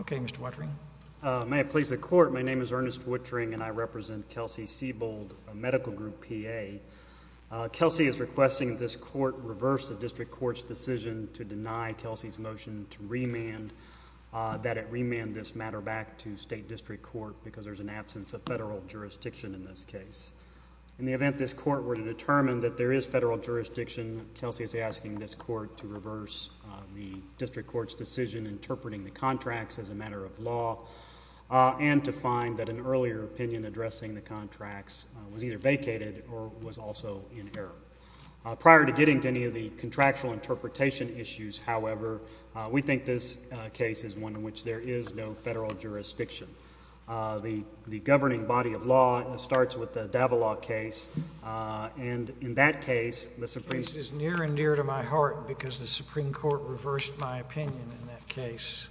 Okay, Mr. Wettering. May it please the Court, my name is Ernest Wettering and I represent Kelsey-Seybold Medical Group P.A. Kelsey is requesting this Court reverse the District Court's decision to deny Kelsey's motion to remand, that it remand this matter back to State District Court because there's an absence of federal jurisdiction in this case. In the event this Court were to determine that there is federal jurisdiction, Kelsey is asking this Court to reverse the District Court's decision interpreting the contracts as a matter of law and to find that an earlier opinion addressing the contracts was either vacated or was also in error. Prior to getting to any of the contractual interpretation issues, however, we think this case is one in which there is no federal jurisdiction. The governing body of law starts with the Davila case and in that case, the Supreme Court reversed my opinion in that case.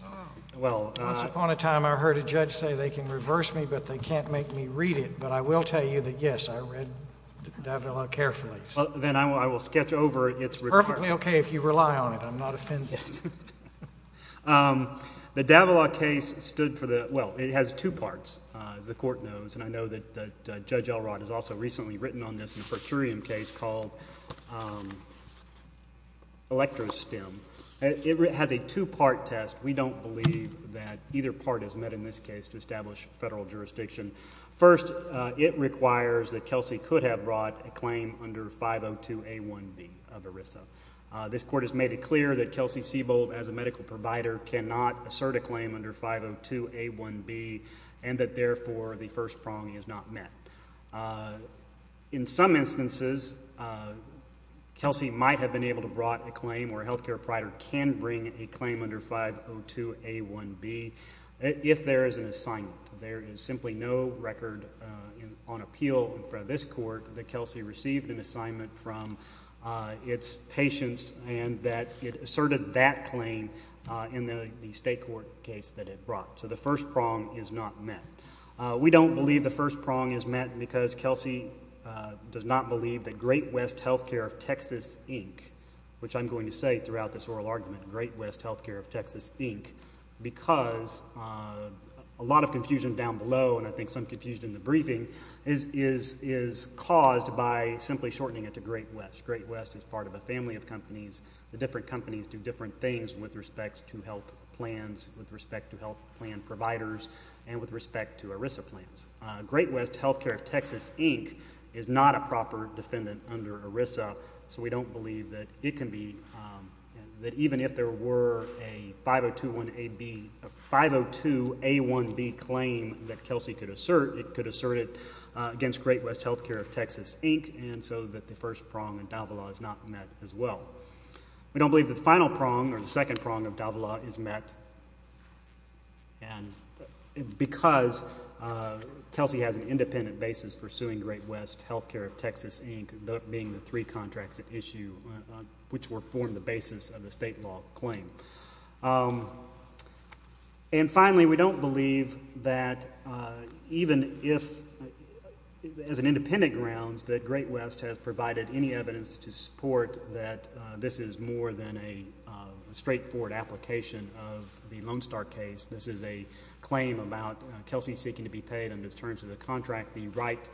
Once upon a time I heard a judge say they can reverse me but they can't make me read it, but I will tell you that, yes, I read Davila carefully. Then I will sketch over it. It's perfectly okay if you rely on it. I'm not offended. The Davila case stood for the, well, it has two parts, as the Court knows, and I know that Judge Elrod has also recently written on this in a per curiam case called Electro-STEM. It has a two-part test. We don't believe that either part is met in this case to establish federal jurisdiction. First, it requires that Kelsey could have brought a claim under 502A1B of ERISA. This Court has made it clear that Kelsey and that therefore the first prong is not met. In some instances, Kelsey might have been able to brought a claim or a health care provider can bring a claim under 502A1B if there is an assignment. There is simply no record on appeal in front of this Court that Kelsey received an assignment from its patients and that it asserted that claim in the state court case that it not met. We don't believe the first prong is met because Kelsey does not believe that Great West Health Care of Texas, Inc., which I'm going to say throughout this oral argument, Great West Health Care of Texas, Inc., because a lot of confusion down below and I think some confusion in the briefing is caused by simply shortening it to Great West. Great West is part of a family of companies. The different companies do different things with respect to health plans, with respect to health plan providers, and with respect to ERISA plans. Great West Health Care of Texas, Inc. is not a proper defendant under ERISA, so we don't believe that it can be, that even if there were a 502A1B claim that Kelsey could assert, it could assert it against Great West Health Care of Texas, Inc., and so that the first prong in Davila is not met as well. We don't believe the final prong or the second prong of Davila is met because Kelsey has an independent basis for suing Great West Health Care of Texas, Inc., being the three contracts at issue which were formed the basis of the state law claim. And finally, we don't believe that even if, as an independent grounds, that Great West has provided any evidence to support that this is more than a straightforward application of the Lone Star case. This is a claim about Kelsey seeking to be paid under the terms of the contract, the right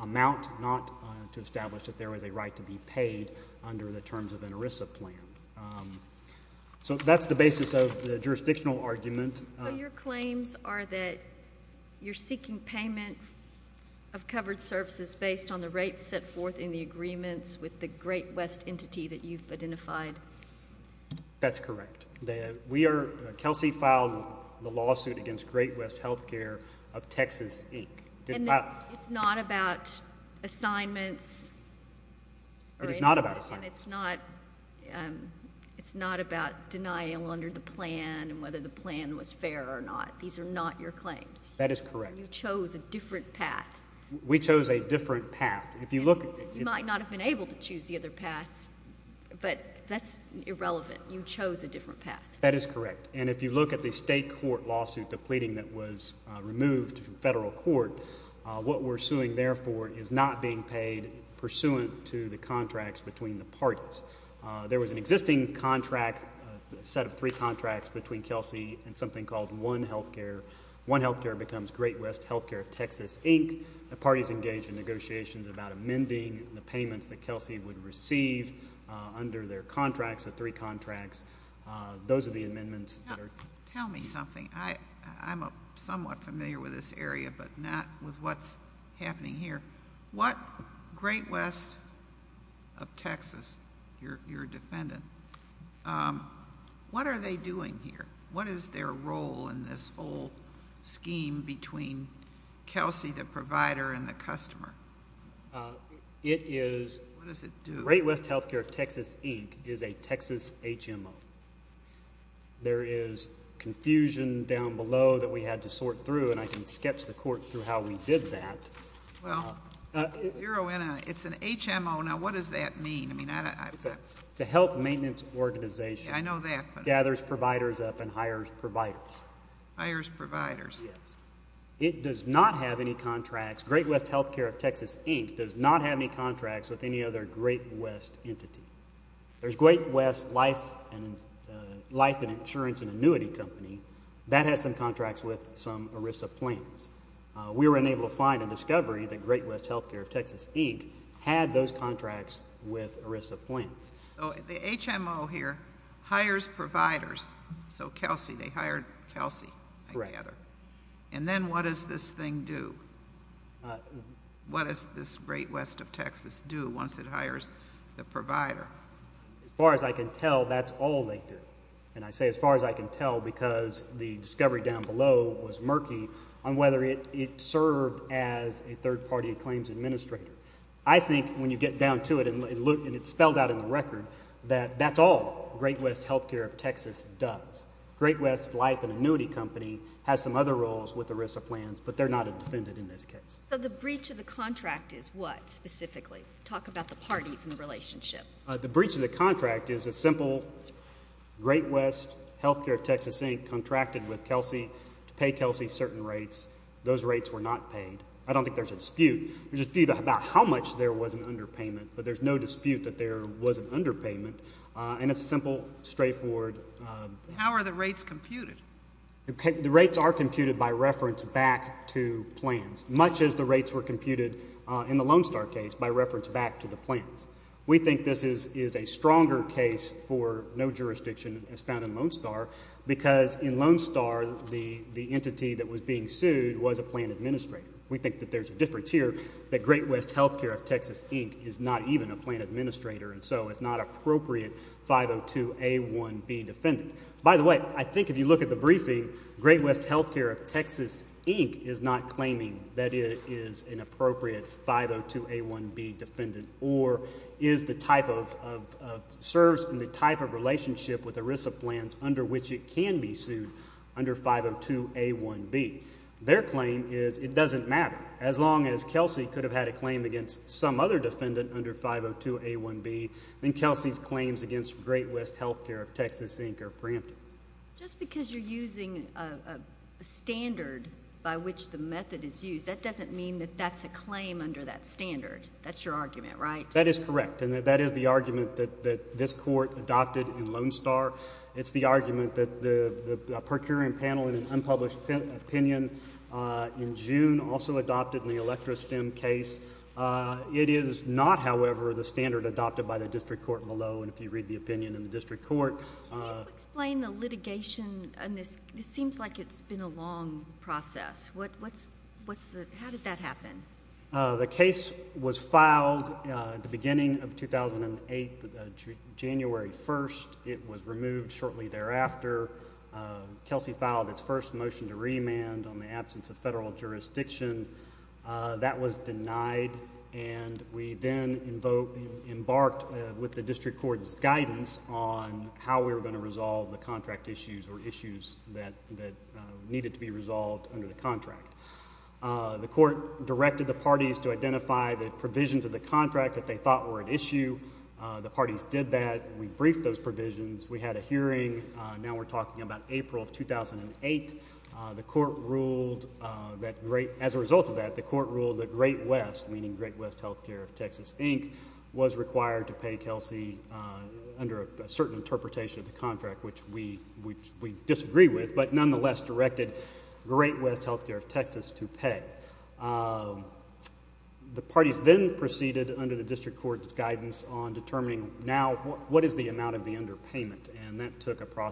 amount not to establish that there was a right to be paid under the terms of an ERISA plan. So that's the basis of the jurisdictional argument. So your claims are that you're seeking payment of covered services based on the rates set forth in the agreements with the Great West entity that you've identified? That's correct. Kelsey filed the lawsuit against Great West Health Care of Texas, Inc. And it's not about assignments? It is not about assignments. And it's not about denying under the plan and whether the plan was fair or not? These are not your claims? That is correct. And you chose a different path. You might not have been able to choose the other path, but that's irrelevant. You chose a different path. That is correct. And if you look at the state court lawsuit, the pleading that was removed from federal court, what we're suing therefore is not being paid pursuant to the contracts between the parties. There was an existing contract, a set of three contracts, between Kelsey and something called One Health Care. One Health Care becomes Great West Health Care of Texas, Inc. The parties engage in negotiations about amending the payments that Kelsey would receive under their contracts, the three contracts. Those are the amendments. Tell me something. I'm somewhat familiar with this area, but not with what's happening here. What Great West of Texas, your defendant, what are they doing here? What is their role in this whole Kelsey, the provider and the customer? What does it do? Great West Health Care of Texas, Inc. is a Texas HMO. There is confusion down below that we had to sort through, and I can sketch the court through how we did that. Well, zero in on it. It's an HMO. Now, what does that mean? It's a health maintenance organization. Yeah, I know that. Gathers providers up and hires providers. Hires providers. Yes. It does not have any contracts. Great West Health Care of Texas, Inc. does not have any contracts with any other Great West entity. There's Great West Life and Insurance and Annuity Company. That has some contracts with some ERISA plans. We were unable to find a discovery that Great West Health Care of Texas, Inc. had those contracts with ERISA plans. The HMO here hires providers. So Kelsey, they hired Kelsey, I gather. And then what does this thing do? What does this Great West of Texas do once it hires the provider? As far as I can tell, that's all they did. And I say as far as I can tell because the discovery down below was murky on whether it served as a third-party claims administrator. I think when you get down to it, and it's spelled out in the record, that that's all Great West Health Care of Texas does. Great West Life and Annuity Company has some other roles with ERISA plans, but they're not a defendant in this case. So the breach of the contract is what, specifically? Talk about the parties in the relationship. The breach of the contract is a simple Great West Health Care of Texas, Inc. contracted with Kelsey to pay Kelsey certain rates. Those rates were not paid. I don't think there's a dispute. There's a dispute about how much there was an underpayment, but there's no dispute that there was an underpayment. And it's simple, straightforward. How are the rates computed? The rates are computed by reference back to plans, much as the rates were computed in the Lone Star case by reference back to the plans. We think this is a stronger case for no jurisdiction as found in Lone Star, because in Lone Star, the entity that was being sued was a plan administrator. We think that there's a difference here that Great West Health Care of Texas, Inc. is not even a plan administrator, and so it's not appropriate 502A1B defendant. By the way, I think if you look at the briefing, Great West Health Care of Texas, Inc. is not claiming that it is an appropriate 502A1B defendant or is the type of, serves in the type of relationship with ERISA plans under which it could have had a claim against some other defendant under 502A1B, then Kelsey's claims against Great West Health Care of Texas, Inc. are preempted. Just because you're using a standard by which the method is used, that doesn't mean that that's a claim under that standard. That's your argument, right? That is correct, and that is the argument that this court adopted in Lone Star. It's the argument that the procuring panel in an unpublished opinion in June also adopted in the Electra Stem case. It is not, however, the standard adopted by the district court below, and if you read the opinion in the district court. Can you explain the litigation on this? It seems like it's been a long process. What's, what's the, how did that happen? The case was filed at the beginning of 2008, January 1st. It was removed shortly thereafter. Kelsey filed its first motion to remand on the absence of federal jurisdiction. That was denied, and we then embarked with the district court's guidance on how we were going to resolve the contract issues or issues that needed to be resolved under the contract. The court directed the parties to identify the provisions of the contract that they thought were an issue. The parties did that. We briefed those provisions. We had a hearing. Now we're talking about April of 2008. The court ruled that, as a result of that, the court ruled that Great West, meaning Great West Healthcare of Texas, Inc., was required to pay Kelsey under a certain interpretation of the contract, which we, which we disagree with, but nonetheless directed Great West Healthcare of Texas to pay. The parties then proceeded under the district court's guidance on determining now what is the amount of the underpayment, and that took a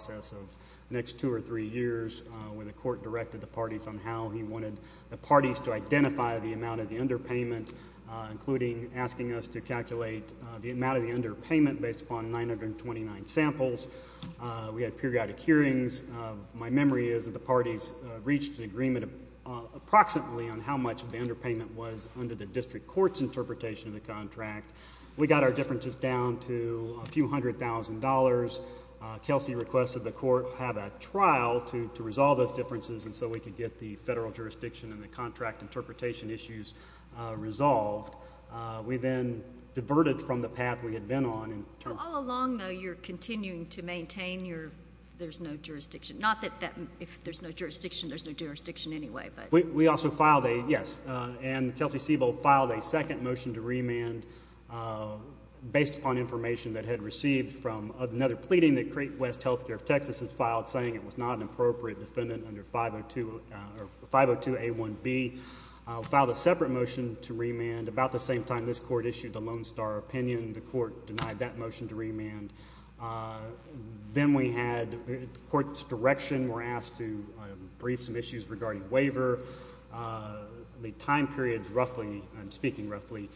next two or three years when the court directed the parties on how he wanted the parties to identify the amount of the underpayment, including asking us to calculate the amount of the underpayment based upon 929 samples. We had periodic hearings. My memory is that the parties reached an agreement approximately on how much of the underpayment was under the district court's interpretation of the contract. We got our differences down to a few hundred thousand dollars. Kelsey requested the court have a trial to resolve those differences, and so we could get the federal jurisdiction and the contract interpretation issues resolved. We then diverted from the path we had been on. All along, though, you're continuing to maintain your there's no jurisdiction. Not that that, if there's no jurisdiction, there's no jurisdiction anyway, but... We also filed a, yes, and Kelsey Siebel filed a second motion to remand based upon information that had received from another pleading that Crete West Healthcare of Texas has filed saying it was not an appropriate defendant under 502 or 502A1B. Filed a separate motion to remand about the same time this court issued the Lone Star opinion. The court denied that motion to remand. Then we had the court's direction were asked to brief some issues regarding waiver. The time periods, roughly, I'm speaking roughly,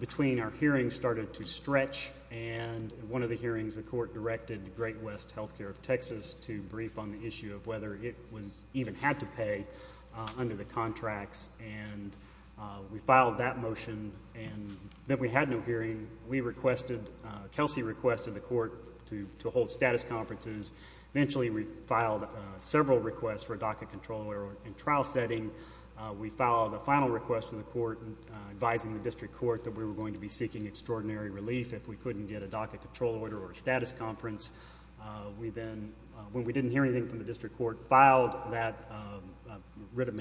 between our hearings started to stretch, and in one of the hearings, the court directed the Great West Healthcare of Texas to brief on the issue of whether it was even had to pay under the contracts, and we filed that motion and then we had no hearing. We requested, Kelsey requested the court to hold status conferences. Eventually, we filed several requests for a docket control order in trial setting. We filed a final request from the court advising the district court that we were going to be seeking extraordinary relief if we couldn't get a docket control order or a status conference. We then, when we didn't hear anything from the district court, filed that writ of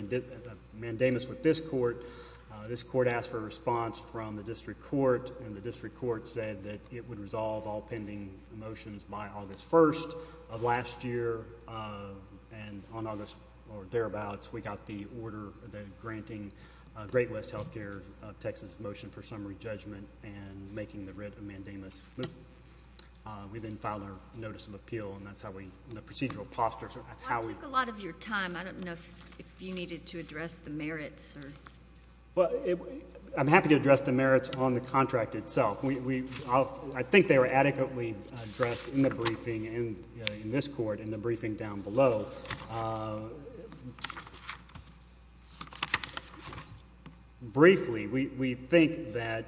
mandamus with this court. This court asked for a response from the district court, and the district court said that it would resolve all of last year, and on August, or thereabouts, we got the order that granting Great West Healthcare of Texas motion for summary judgment and making the writ of mandamus. We then filed a notice of appeal, and that's how we, the procedural postures. I took a lot of your time. I don't know if you needed to address the merits. Well, I'm happy to address the merits on the contract itself. I think they were adequately addressed in the briefing, in this court, in the briefing down below. Briefly, we think that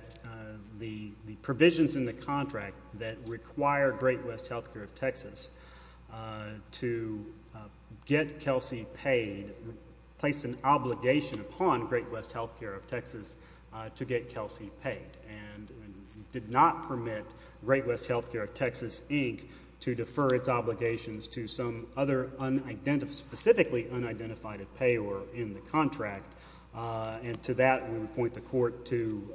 the provisions in the contract that require Great West Healthcare of Texas to get Kelsey paid placed an obligation upon Great West Healthcare of Texas to get Kelsey paid, and did not permit Great West Healthcare of Texas, Inc., to defer its obligations to some other unidentified, specifically unidentified payor in the contract, and to that, we would point the court to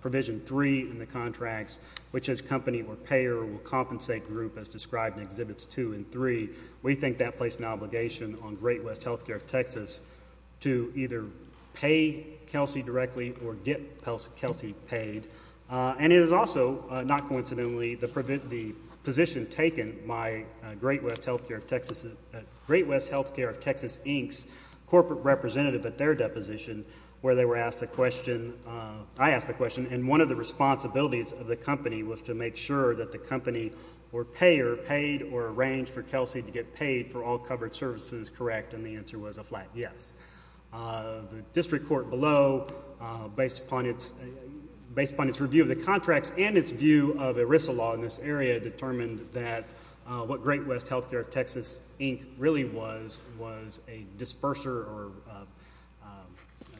provision three in the contracts, which is company or payer will compensate group, as described in exhibits two and three. We think that placed an obligation on Great West Healthcare of Texas to either pay Kelsey directly or get Kelsey paid, and it is also, not coincidentally, the position taken by Great West Healthcare of Texas, Great West Healthcare of Texas, Inc.'s corporate representative at their deposition, where they were asked the question, I asked the question, and one of the responsibilities of the company was to make sure that the company or payer paid or arranged for Kelsey to get paid for all covered services correct, and the answer was a flat yes. The district court below, based upon its review of the contracts and its view of ERISA law in this area, determined that what Great West Healthcare of Texas, Inc. really was, was a disperser or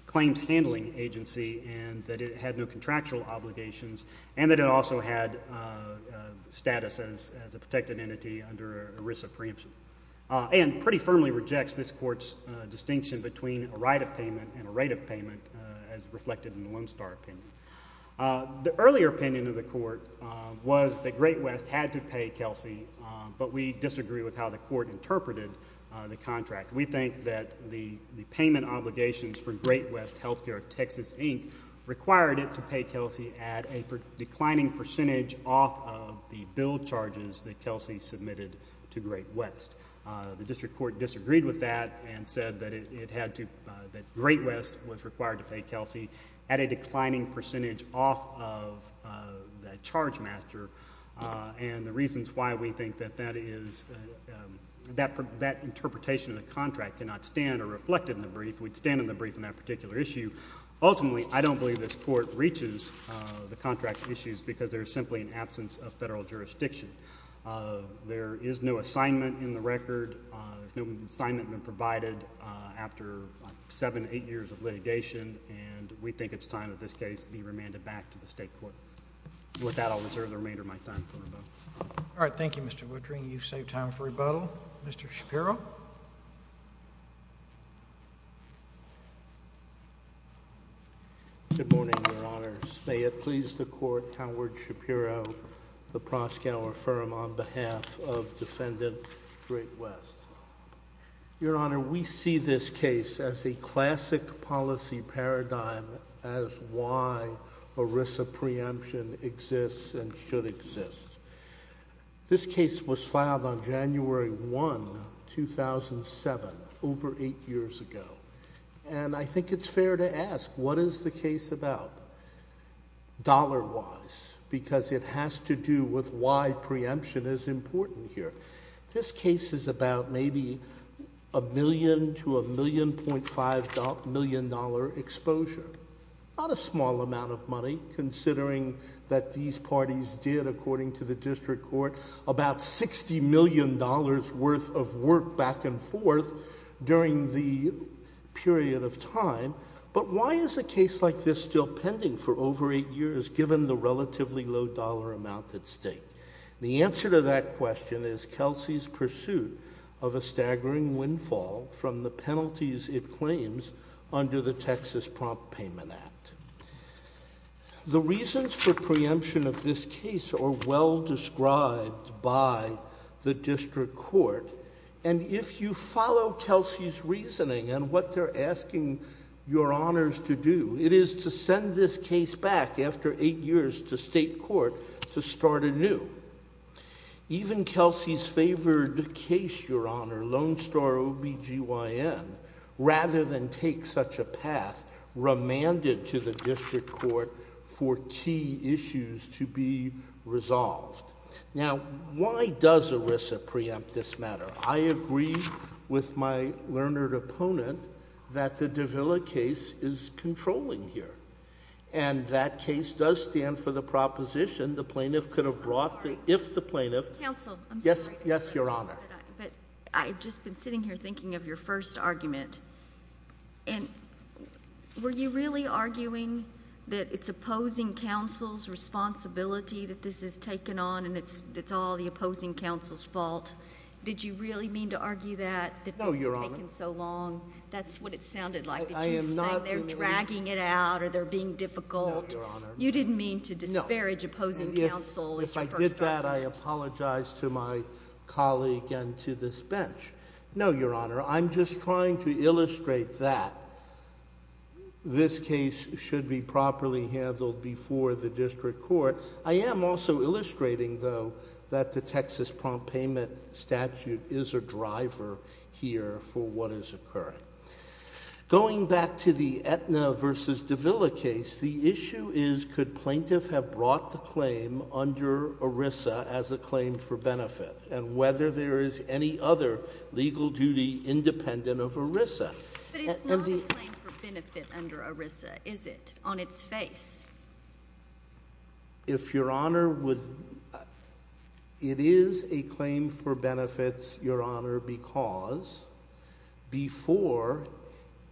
claimed handling agency, and that it had no contractual obligations, and that it also had status as a protected entity under ERISA preemption, and pretty firmly rejects this court's distinction between a right of payment and a right of payment, as reflected in the Lone Star opinion. The earlier opinion of the court was that Great West had to pay Kelsey, but we disagree with how the court interpreted the contract. We think that the payment obligations for Great West Healthcare of Texas, Inc. required it to pay Kelsey at a declining percentage off of the bill charges that Kelsey submitted to Great West. The district court disagreed with that and said that it had to, that Great West was required to pay Kelsey at a declining percentage off of that charge master, and the reasons why we think that that is, that interpretation of the contract cannot stand or reflect in the brief. We'd stand in the brief on that particular issue. Ultimately, I don't believe this court reaches the contract issues because there's simply an absence of federal jurisdiction. There is no assignment in the record. There's no assignment been provided after seven, eight years of litigation, and we think it's time that this case be remanded back to the state court. With that, I'll reserve the remainder of my time for rebuttal. All right. Thank you, Mr. Woodring. You've saved time for rebuttal. Mr. Shapiro. Good morning, Your Honors. May it please the Court, Howard Shapiro, the Proskauer Firm, on behalf of Defendant Great West. Your Honor, we see this case as a classic policy paradigm as why ERISA preemption exists and should exist. This case was filed on January 1, 2007, over eight years ago, and I think it's fair to ask, what is the case about dollar-wise? Because it has to do with why preemption is important here. This case is about maybe a million to a million point five million dollar exposure. Not a small amount of money, considering that these parties did, according to the district court, about $60 million worth work back and forth during the period of time. But why is a case like this still pending for over eight years, given the relatively low dollar amount at stake? The answer to that question is Kelsey's pursuit of a staggering windfall from the penalties it claims under the Texas Prompt Payment Act. The reasons for preemption of this case are well described by the district court, and if you follow Kelsey's reasoning and what they're asking Your Honors to do, it is to send this case back after eight years to state court to start anew. Even Kelsey's favored case, Your Honor, is a path remanded to the district court for key issues to be resolved. Now, why does ERISA preempt this matter? I agree with my learned opponent that the Davila case is controlling here, and that case does stand for the proposition the plaintiff could have brought if the plaintiff... Counsel, I'm sorry. Yes, yes, Your Honor. But I've just been sitting here thinking of your first argument, and were you really arguing that it's opposing counsel's responsibility that this is taken on, and it's all the opposing counsel's fault? Did you really mean to argue that? No, Your Honor. That this has taken so long? That's what it sounded like, that you were saying they're dragging it out or they're being difficult. No, Your Honor. You didn't mean to disparage opposing counsel in your first argument. If I did that, I apologize to my colleague and to this bench. No, Your Honor. I'm just trying to illustrate that this case should be properly handled before the district court. I am also illustrating, though, that the Texas Prompt Payment Statute is a driver here for what is occurring. Going back to the Aetna v. Davila case, the issue is could plaintiff have brought the claim under ERISA as a claim for benefit, and whether there is any other legal duty independent of ERISA? But it's not a claim for benefit under ERISA, is it, on its face? It is a claim for benefits, Your Honor, because before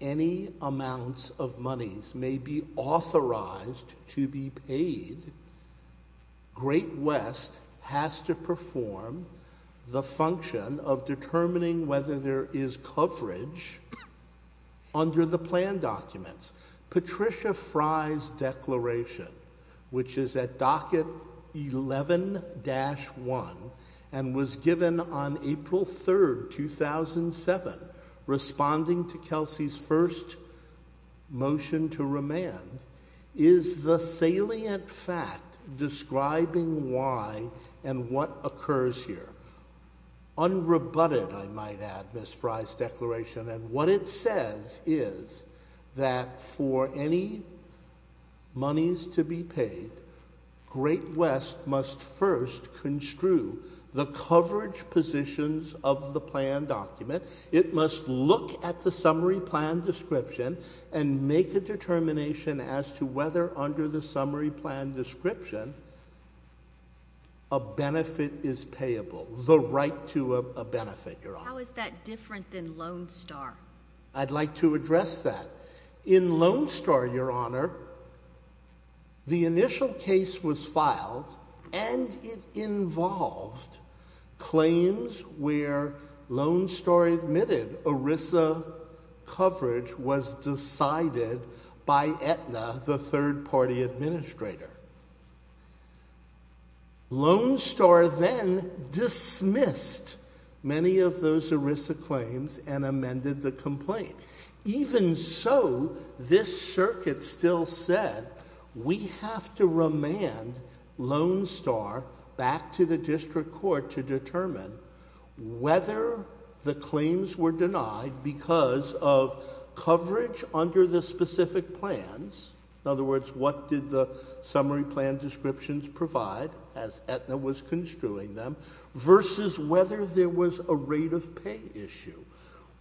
any amounts of monies may be authorized to be paid, Great West has to perform the function of determining whether there is coverage under the plan documents. Patricia Fry's declaration, which is at docket 11-1 and was the salient fact describing why and what occurs here, unrebutted, I might add, Ms. Fry's declaration, and what it says is that for any monies to be paid, Great West must first construe the coverage positions of the plan document. It must look at the summary plan description and make a determination as to whether under the summary plan description a benefit is payable, the right to a benefit, Your Honor. How is that different than Lone Star? I'd like to address that. In Lone Star, Your Honor, the initial case was filed and it involved claims where Lone Star admitted ERISA coverage was decided by Aetna, the third party administrator. Lone Star then dismissed many of those ERISA claims and amended the complaint. Even so, this circuit still said we have to remand Lone Star back to the district court to determine whether the claims were denied because of coverage under the specific plans. In other words, what did the summary plan descriptions provide, as Aetna was construing them, versus whether there was a rate of pay issue?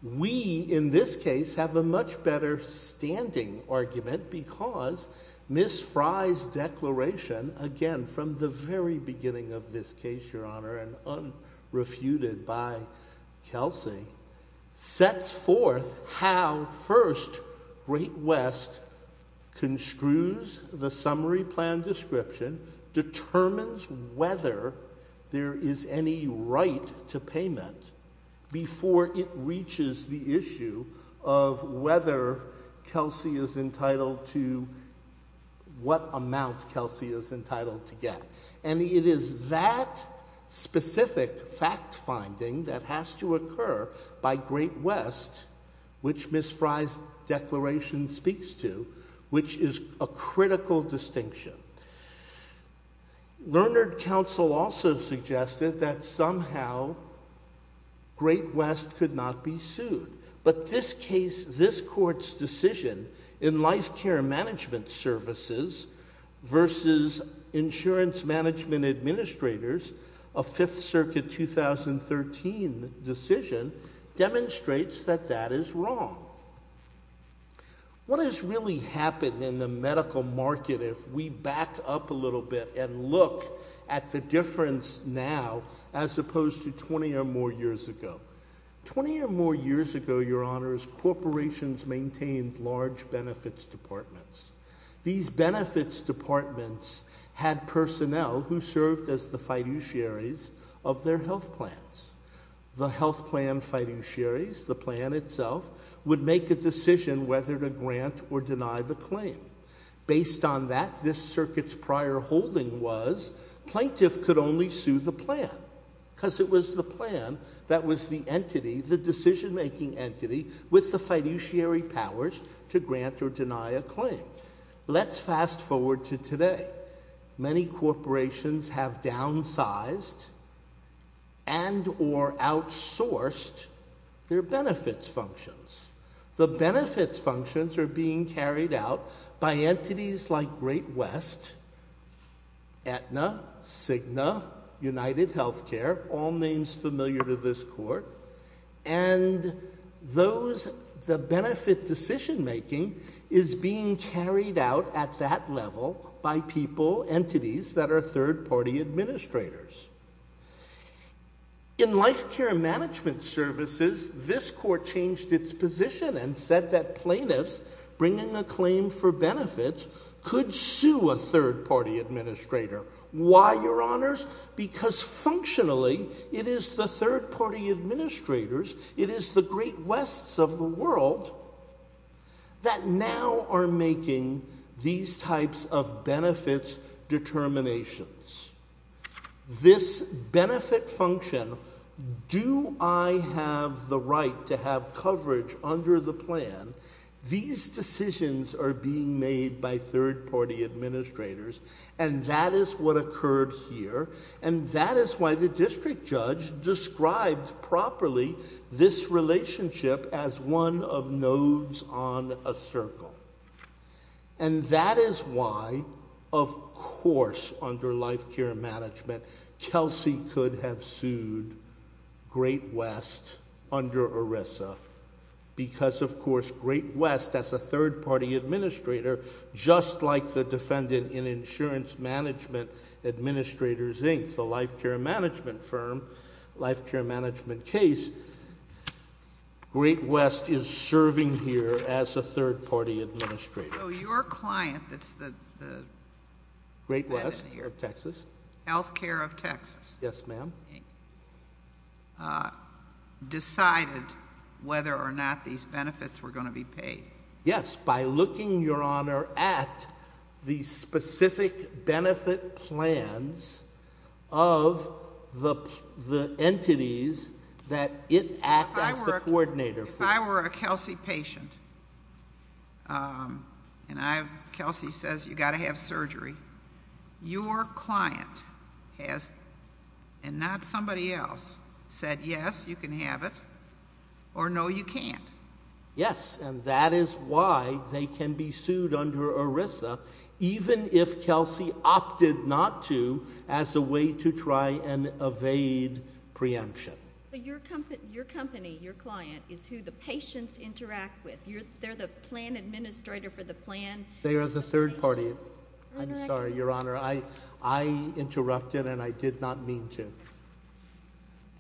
We, in this case, have a much better standing argument because Ms. Fry's declaration, again from the very beginning of this case, Your Honor, and unrefuted by Kelsey, sets forth how first Great West construes the summary plan description, determines whether there is any right to payment before it reaches the issue of whether Kelsey is entitled to what amount Kelsey is entitled to get. And it is that specific fact finding that has to occur by Great West, which Ms. Fry's declaration speaks to, which is a critical distinction. Lerner Council also suggested that somehow Great West could not be sued. But this case, this court's decision in life care management services versus insurance management administrators, a Fifth Circuit 2013 decision, demonstrates that that is wrong. What has really happened in the case of Great West is that it is not a case of, you know, we're going to go back up a little bit and look at the difference now as opposed to 20 or more years ago. 20 or more years ago, Your Honor, as corporations maintained large benefits departments, these benefits departments had personnel who served as the fiduciaries of their health plans. The health plan fiduciaries, the plan itself, would make a decision whether to grant or deny the claim. Based on that, this circuit's prior holding was plaintiff could only sue the plan because it was the plan that was the entity, the decision-making entity, with the fiduciary powers to grant or deny a claim. Let's fast forward to today. Many corporations have downsized and or outsourced their benefits functions. The benefits functions are being carried out by entities like Great West, Aetna, Cigna, UnitedHealthcare, all names familiar to this court, and those, the benefit decision making is being carried out at that level by people, entities that are third-party administrators. In life care management services, this court changed its position and said that plaintiffs bringing a claim for benefits could sue a third-party administrator. Why, Your Honors? Because functionally, it is the third-party administrators, it is the Great Wests of the world that now are making these types of benefits determinations. This benefit function, do I have the right to have coverage under the plan? These decisions are being made by third-party administrators, and that is what occurred here, and that is why the district judge described properly this relationship as one of nodes on a circle, and that is why, of course, under life care management, Kelsey could have sued Great West under ERISA, because of course, Great West, as a third-party administrator, just like the defendant in Insurance Management Administrators Inc., the life care management firm, life care management case, Great West is serving here as a third-party administrator. So your client, that's the... Great West of Texas. Healthcare of Texas. Yes, ma'am. Decided whether or not these benefits were going to be paid. Yes, by looking, Your Honor, at the specific benefit plans of the entities that it acts as the coordinator for. If I were a Kelsey patient, and Kelsey says, you got to have surgery, your client has, and not somebody else, said yes, you can have it, or no, you can't. Yes, and that is why they can be sued under ERISA, even if Kelsey opted not to, as a way to try and evade preemption. Your company, your client, is who the patients interact with. They're the plan administrator for the plan. They are the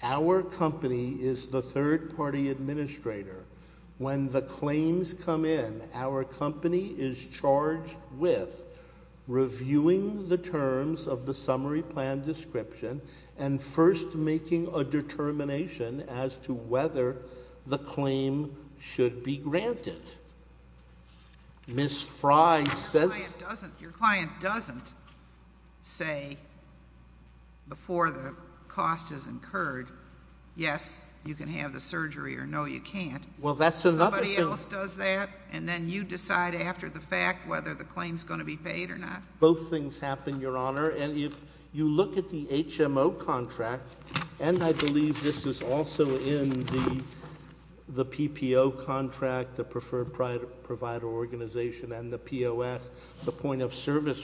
Our company is the third-party administrator. When the claims come in, our company is charged with reviewing the terms of the summary plan description and first making a determination as to whether the claim should be granted. Ms. Frye says... Your client doesn't say before the cost is incurred, yes, you can have the surgery, or no, you can't. Well, that's another... Somebody else does that, and then you decide after the fact whether the claim is going to be paid or not. Both things happen, Your Honor, and if you look at the HMO contract, and I believe this is also in the the PPO contract, the preferred provider organization, and the POS, the point of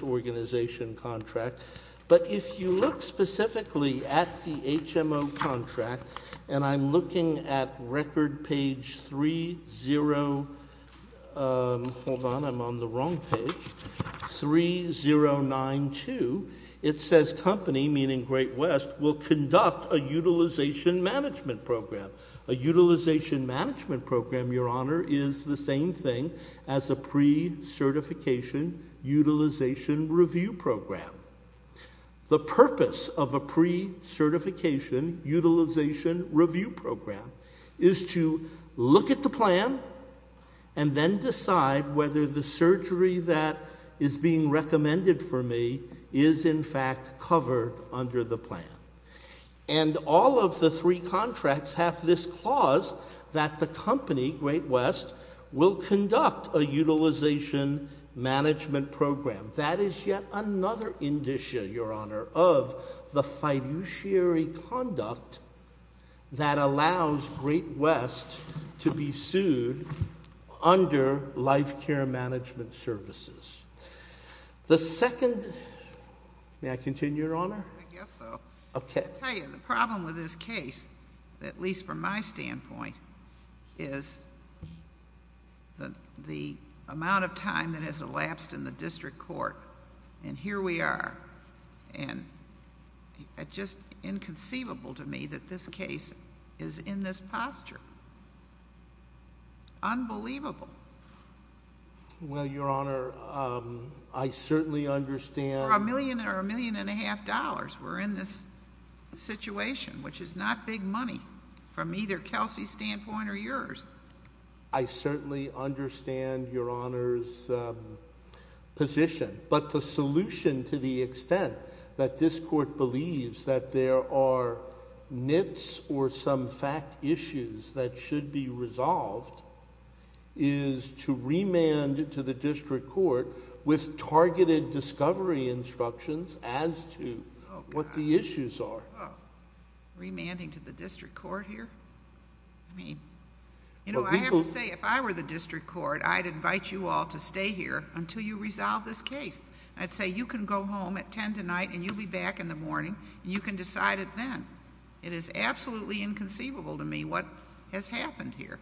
organization contract, but if you look specifically at the HMO contract, and I'm looking at record page 30... Hold on, I'm on the wrong page. 3092. It says company, meaning Great West, will conduct a utilization management program. A utilization management program, Your Honor, is the same thing as a pre-certification utilization review program. The purpose of a pre-certification utilization review program is to look at the plan and then decide whether the surgery that is being recommended for me is in fact covered under the plan. And all of the three contracts have this clause that the company, Great West, will conduct a utilization management program. That is yet another indicia, Your Honor, of the fiduciary conduct that allows Great West to be sued under life care management services. The second... May I continue, Your Honor? I guess so. Okay. I'll tell you, the problem with this case, at least from my standpoint, is the amount of time that has elapsed in the district court, and here we are, and just inconceivable to me that this case is in this posture. Unbelievable. Well, Your Honor, I certainly understand... For a million or a million and a half dollars, we're in this situation, which is not big money from either Kelsey's standpoint or yours. I certainly understand Your Honor's position, but the solution to the extent that this court believes that there are nits or some fact issues that should be resolved is to remand to the what the issues are. Remanding to the district court here? I mean, you know, I have to say, if I were the district court, I'd invite you all to stay here until you resolve this case. I'd say, you can go home at 10 tonight and you'll be back in the morning and you can decide it then. It is absolutely inconceivable to me what has happened here.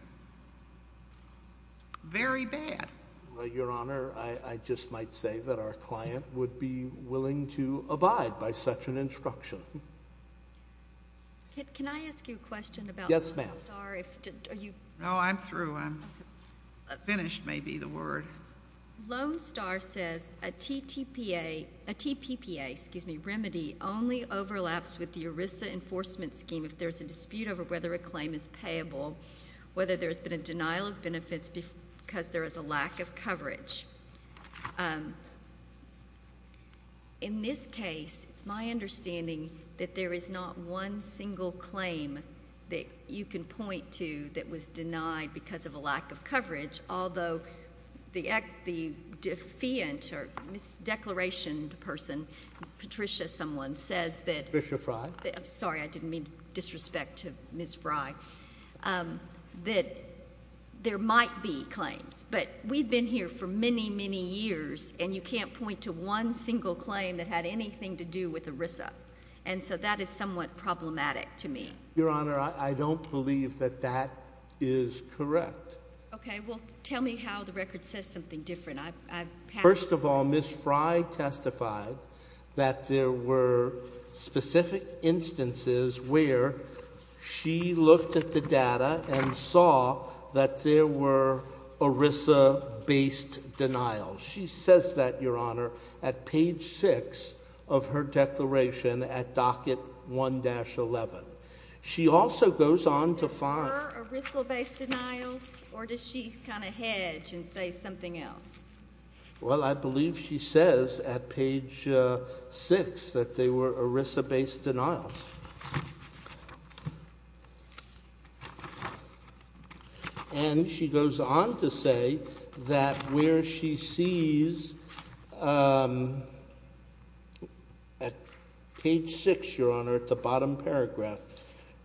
Very bad. Well, Your Honor, I just might say that our client would be willing to abide by such an instruction. Can I ask you a question about Lone Star? Yes, ma'am. No, I'm through. I'm finished, may be, the word. Lone Star says a TPPA, excuse me, remedy only overlaps with the ERISA enforcement scheme if there's a dispute over whether a claim is payable, whether there's been a denial of benefits because there is a lack of coverage. In this case, it's my understanding that there is not one single claim that you can point to that was denied because of a lack of coverage, although the defiant or mis-declaration person, Patricia someone, says that. Patricia Fry. I'm sorry, I didn't mean to disrespect to point to one single claim that had anything to do with ERISA. And so that is somewhat problematic to me. Your Honor, I don't believe that that is correct. Okay, well, tell me how the record says something different. First of all, Ms. Fry testified that there were specific instances where she looked at the data and saw that there were ERISA based denials. She says that, Your Honor, at page six of her declaration at docket one dash eleven. She also goes on to find... Were there ERISA based denials or does she kind of hedge and say something else? Well, I believe she says at page six that they were ERISA based denials. And she goes on to say that where she sees at page six, Your Honor, at the bottom paragraph,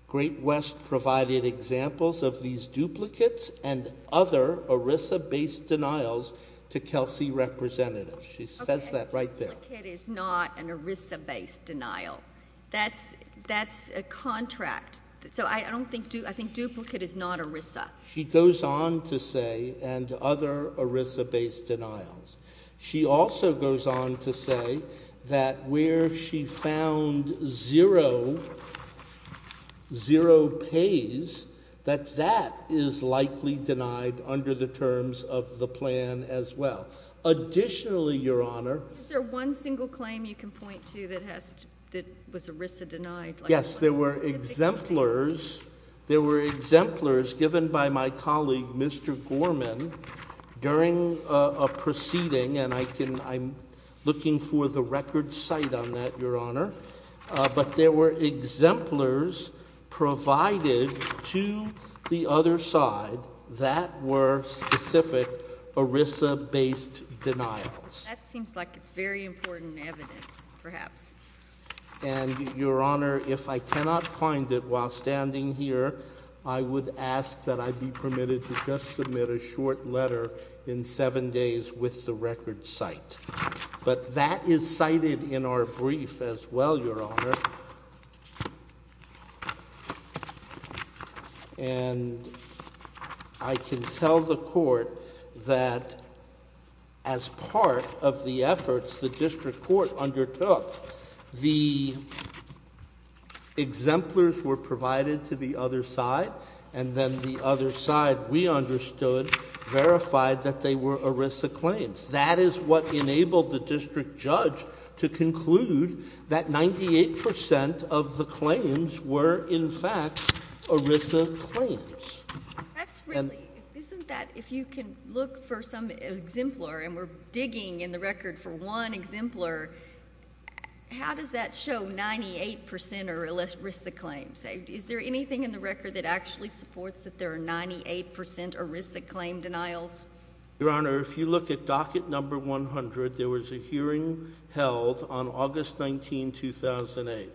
Great West provided examples of these duplicates and other ERISA based denials to Kelsey representative. She says that right there. Okay, duplicate is not an ERISA based denial. That's a contract. So I don't think, I think duplicate is not ERISA. She goes on to say and other ERISA based denials. She also goes on to say that where she found zero, zero pays, that that is likely denied under the terms of the plan as well. Additionally, Your Honor... Is there one single claim you can point to that has, that was ERISA denied? Yes, there were exemplars. There were exemplars given by my colleague, Mr. Gorman during a looking for the record site on that, Your Honor. But there were exemplars provided to the other side that were specific ERISA based denials. That seems like it's very important evidence, perhaps. And Your Honor, if I cannot find it while standing here, I would ask that I be permitted to just submit a short letter in seven days with the record site. But that is cited in our brief as well, Your Honor. And I can tell the court that as part of the efforts the district court undertook, the exemplars were provided to the other side, and then the other side, we understood, verified that they were ERISA claims. That is what enabled the district judge to conclude that 98 percent of the claims were in fact ERISA claims. That's really, isn't that, if you can look for some and we're digging in the record for one exemplar, how does that show 98 percent are ERISA claims? Is there anything in the record that actually supports that there are 98 percent ERISA claim denials? Your Honor, if you look at docket number 100, there was a hearing held on August 19, 2008.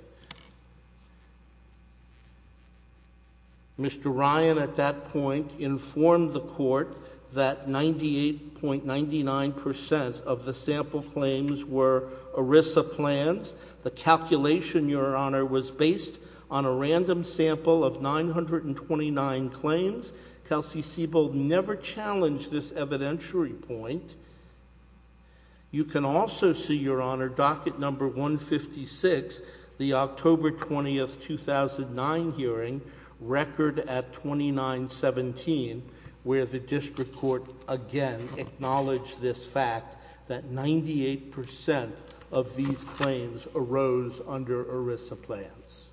Mr. Ryan at that point informed the court that 98.99 percent of the sample claims were ERISA plans. The calculation, Your Honor, was based on a random sample of 929 claims. Kelsey Sebo never challenged this evidentiary point. You can also see, Your Honor, docket number 156, the October 20, 2009 hearing, record at 2917, where the district court again acknowledged this fact that 98 percent of these claims arose under ERISA plans.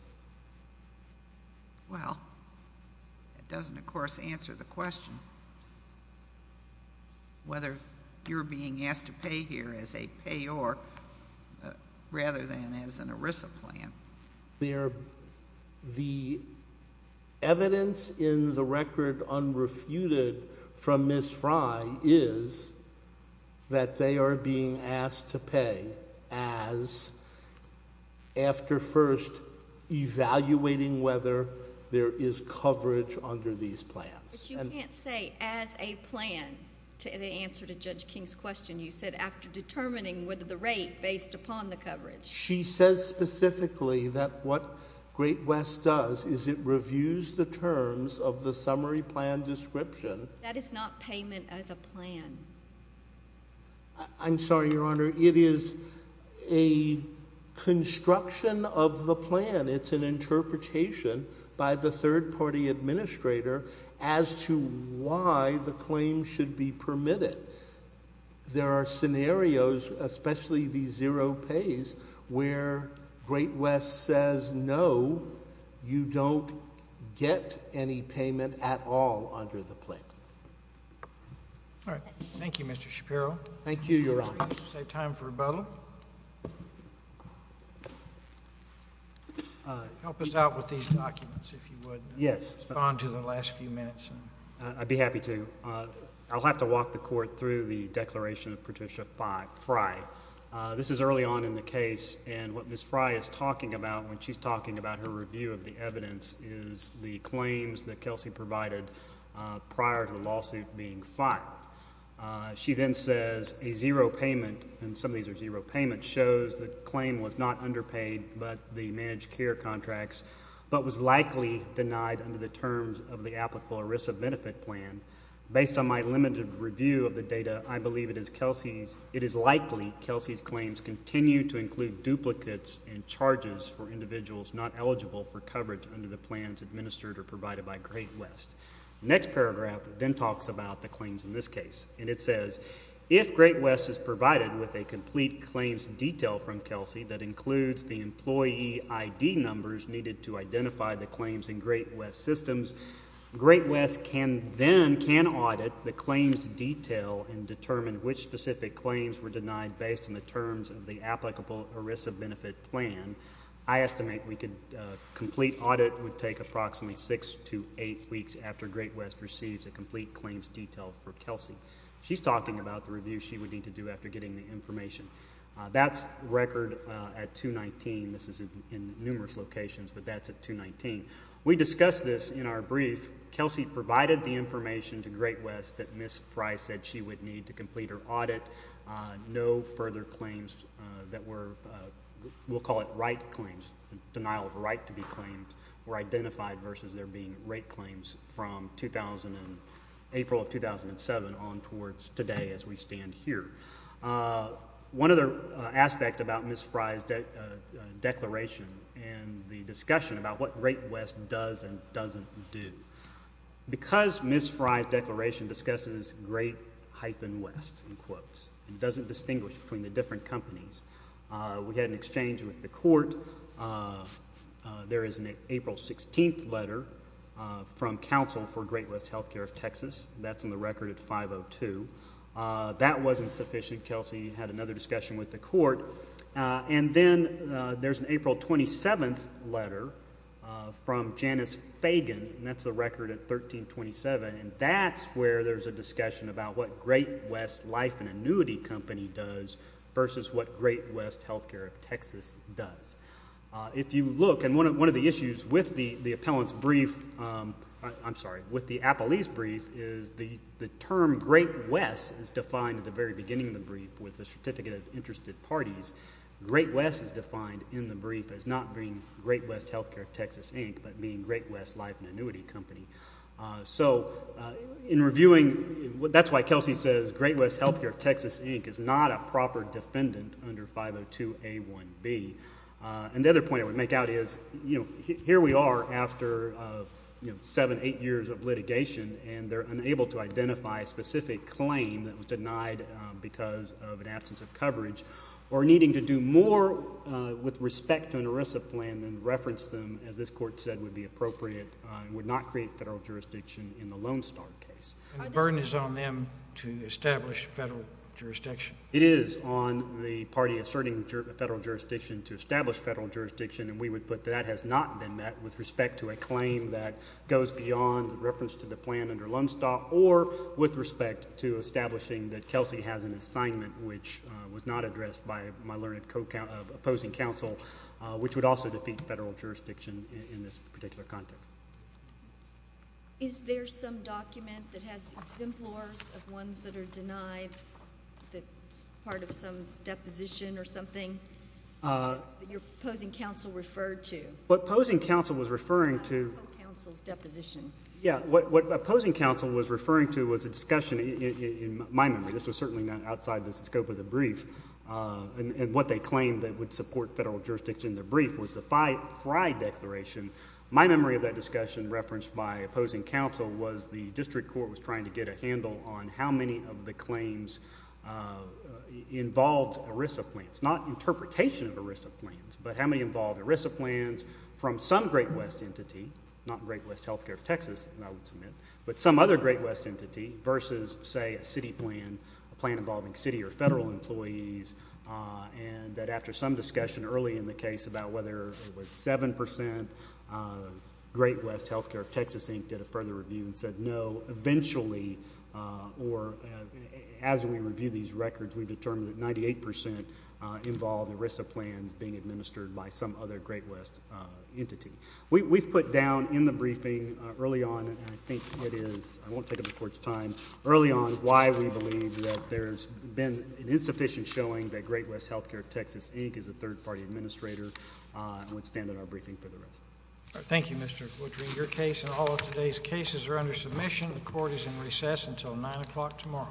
Well, that doesn't of course answer the question, whether you're being asked to pay here as a payor rather than as an ERISA plan. The evidence in the record unrefuted from Ms. Fry is that they are being asked to pay as ERISA plans after first evaluating whether there is coverage under these plans. But you can't say as a plan to answer to Judge King's question. You said after determining whether the rate based upon the coverage. She says specifically that what Great West does is it reviews the terms of the summary plan description. That is not payment as a plan. I'm sorry, Your Honor. It is a construction of the plan. It's an interpretation by the third party administrator as to why the claim should be permitted. There are scenarios, especially the zero pays, where Great West says no, you don't get any payment at all under the plan. All right. Thank you, Mr. Shapiro. Thank you. Help us out with these documents, if you would. Yes. Respond to the last few minutes. I'd be happy to. I'll have to walk the Court through the declaration of Patricia Fry. This is early on in the case, and what Ms. Fry is talking about when she's talking about her review of the evidence is the claims that Kelsey provided prior to the lawsuit being filed. She then says a zero payment, and some of these are zero payments, shows the claim was not underpaid by the managed care contracts, but was likely denied under the terms of the applicable ERISA benefit plan. Based on my limited review of the data, I believe it is likely Kelsey's claims continue to include duplicates and charges for individuals not eligible for coverage under the plans administered or provided by Great West. Next paragraph then talks about the claims in this case, and it says, if Great West is provided with a complete claims detail from Kelsey that includes the employee ID numbers needed to identify the claims in Great West systems, Great West can then can audit the claims detail and determine which specific claims were denied based on the terms of the applicable ERISA benefit plan. I estimate we could complete audit would take approximately six to eight weeks after Great West receives a complete claims detail for Kelsey. She's talking about the review she would need to do after getting the information. That's record at 219. This is in numerous locations, but that's at 219. We discussed this in our brief. Kelsey provided the information to Great West that Ms. Fry said she would need to complete her audit. No further claims that were, we'll call it right claims, denial of right to be on towards today as we stand here. One other aspect about Ms. Fry's declaration and the discussion about what Great West does and doesn't do. Because Ms. Fry's declaration discusses Great hyphen West in quotes, it doesn't distinguish between the different companies. We had an exchange with the court. There is an April 16th letter from counsel for Great West Healthcare of 502. That wasn't sufficient. Kelsey had another discussion with the court. And then there's an April 27th letter from Janice Fagan, and that's the record at 1327. And that's where there's a discussion about what Great West Life and Annuity Company does versus what Great West Healthcare of Texas does. If you look, and one of the issues with the appellant's brief, I'm sorry, with the appellant's brief is the term Great West is defined at the very beginning of the brief with a certificate of interested parties. Great West is defined in the brief as not being Great West Healthcare of Texas, Inc., but being Great West Life and Annuity Company. So in reviewing, that's why Kelsey says Great West Healthcare of Texas, Inc. is not a proper and their inability to identify a specific claim that was denied because of an absence of coverage were needing to do more with respect to an ERISA plan than reference them, as this court said would be appropriate and would not create federal jurisdiction. And the burden is on them to establish federal jurisdiction? It is on the party asserting federal jurisdiction to establish federal jurisdiction. And we would that has not been met with respect to a claim that goes beyond reference to the plan under Lundstad or with respect to establishing that Kelsey has an assignment which was not addressed by my learned opposing counsel, which would also defeat federal jurisdiction in this particular context. Is there some document that has exemplars of ones that are denied, that is part of some deposition or something that your opposing counsel referred to? What opposing counsel was referring to. Counsel's deposition. Yeah. What opposing counsel was referring to was a discussion in my memory. This was certainly not outside the scope of the brief. And what they claimed that would support federal jurisdiction in the brief was the Frye declaration. My memory of that discussion referenced by opposing counsel was the district court was trying to get a handle on how many of the claims involved ERISA plans, not interpretation of ERISA plans, but how many involved ERISA plans from some Great West entity, not Great West Healthcare of Texas, and I would submit, but some other Great West entity versus, say, a city plan, a plan involving city or federal employees, and that after some discussion early in the case about whether it was 7% Great West Healthcare of Texas, Inc. did a further review and said no. Eventually, or as we review these records, we've determined that 98% involved ERISA plans being administered by some other Great West entity. We've put down in the briefing early on, and I think it is, I won't take up the court's time, early on why we believe that there's been an insufficient showing that Great West Healthcare of Texas, Inc. is a Thank you, Mr. Woodring. Your case and all of today's cases are under submission. The court is in recess until 9 o'clock tomorrow.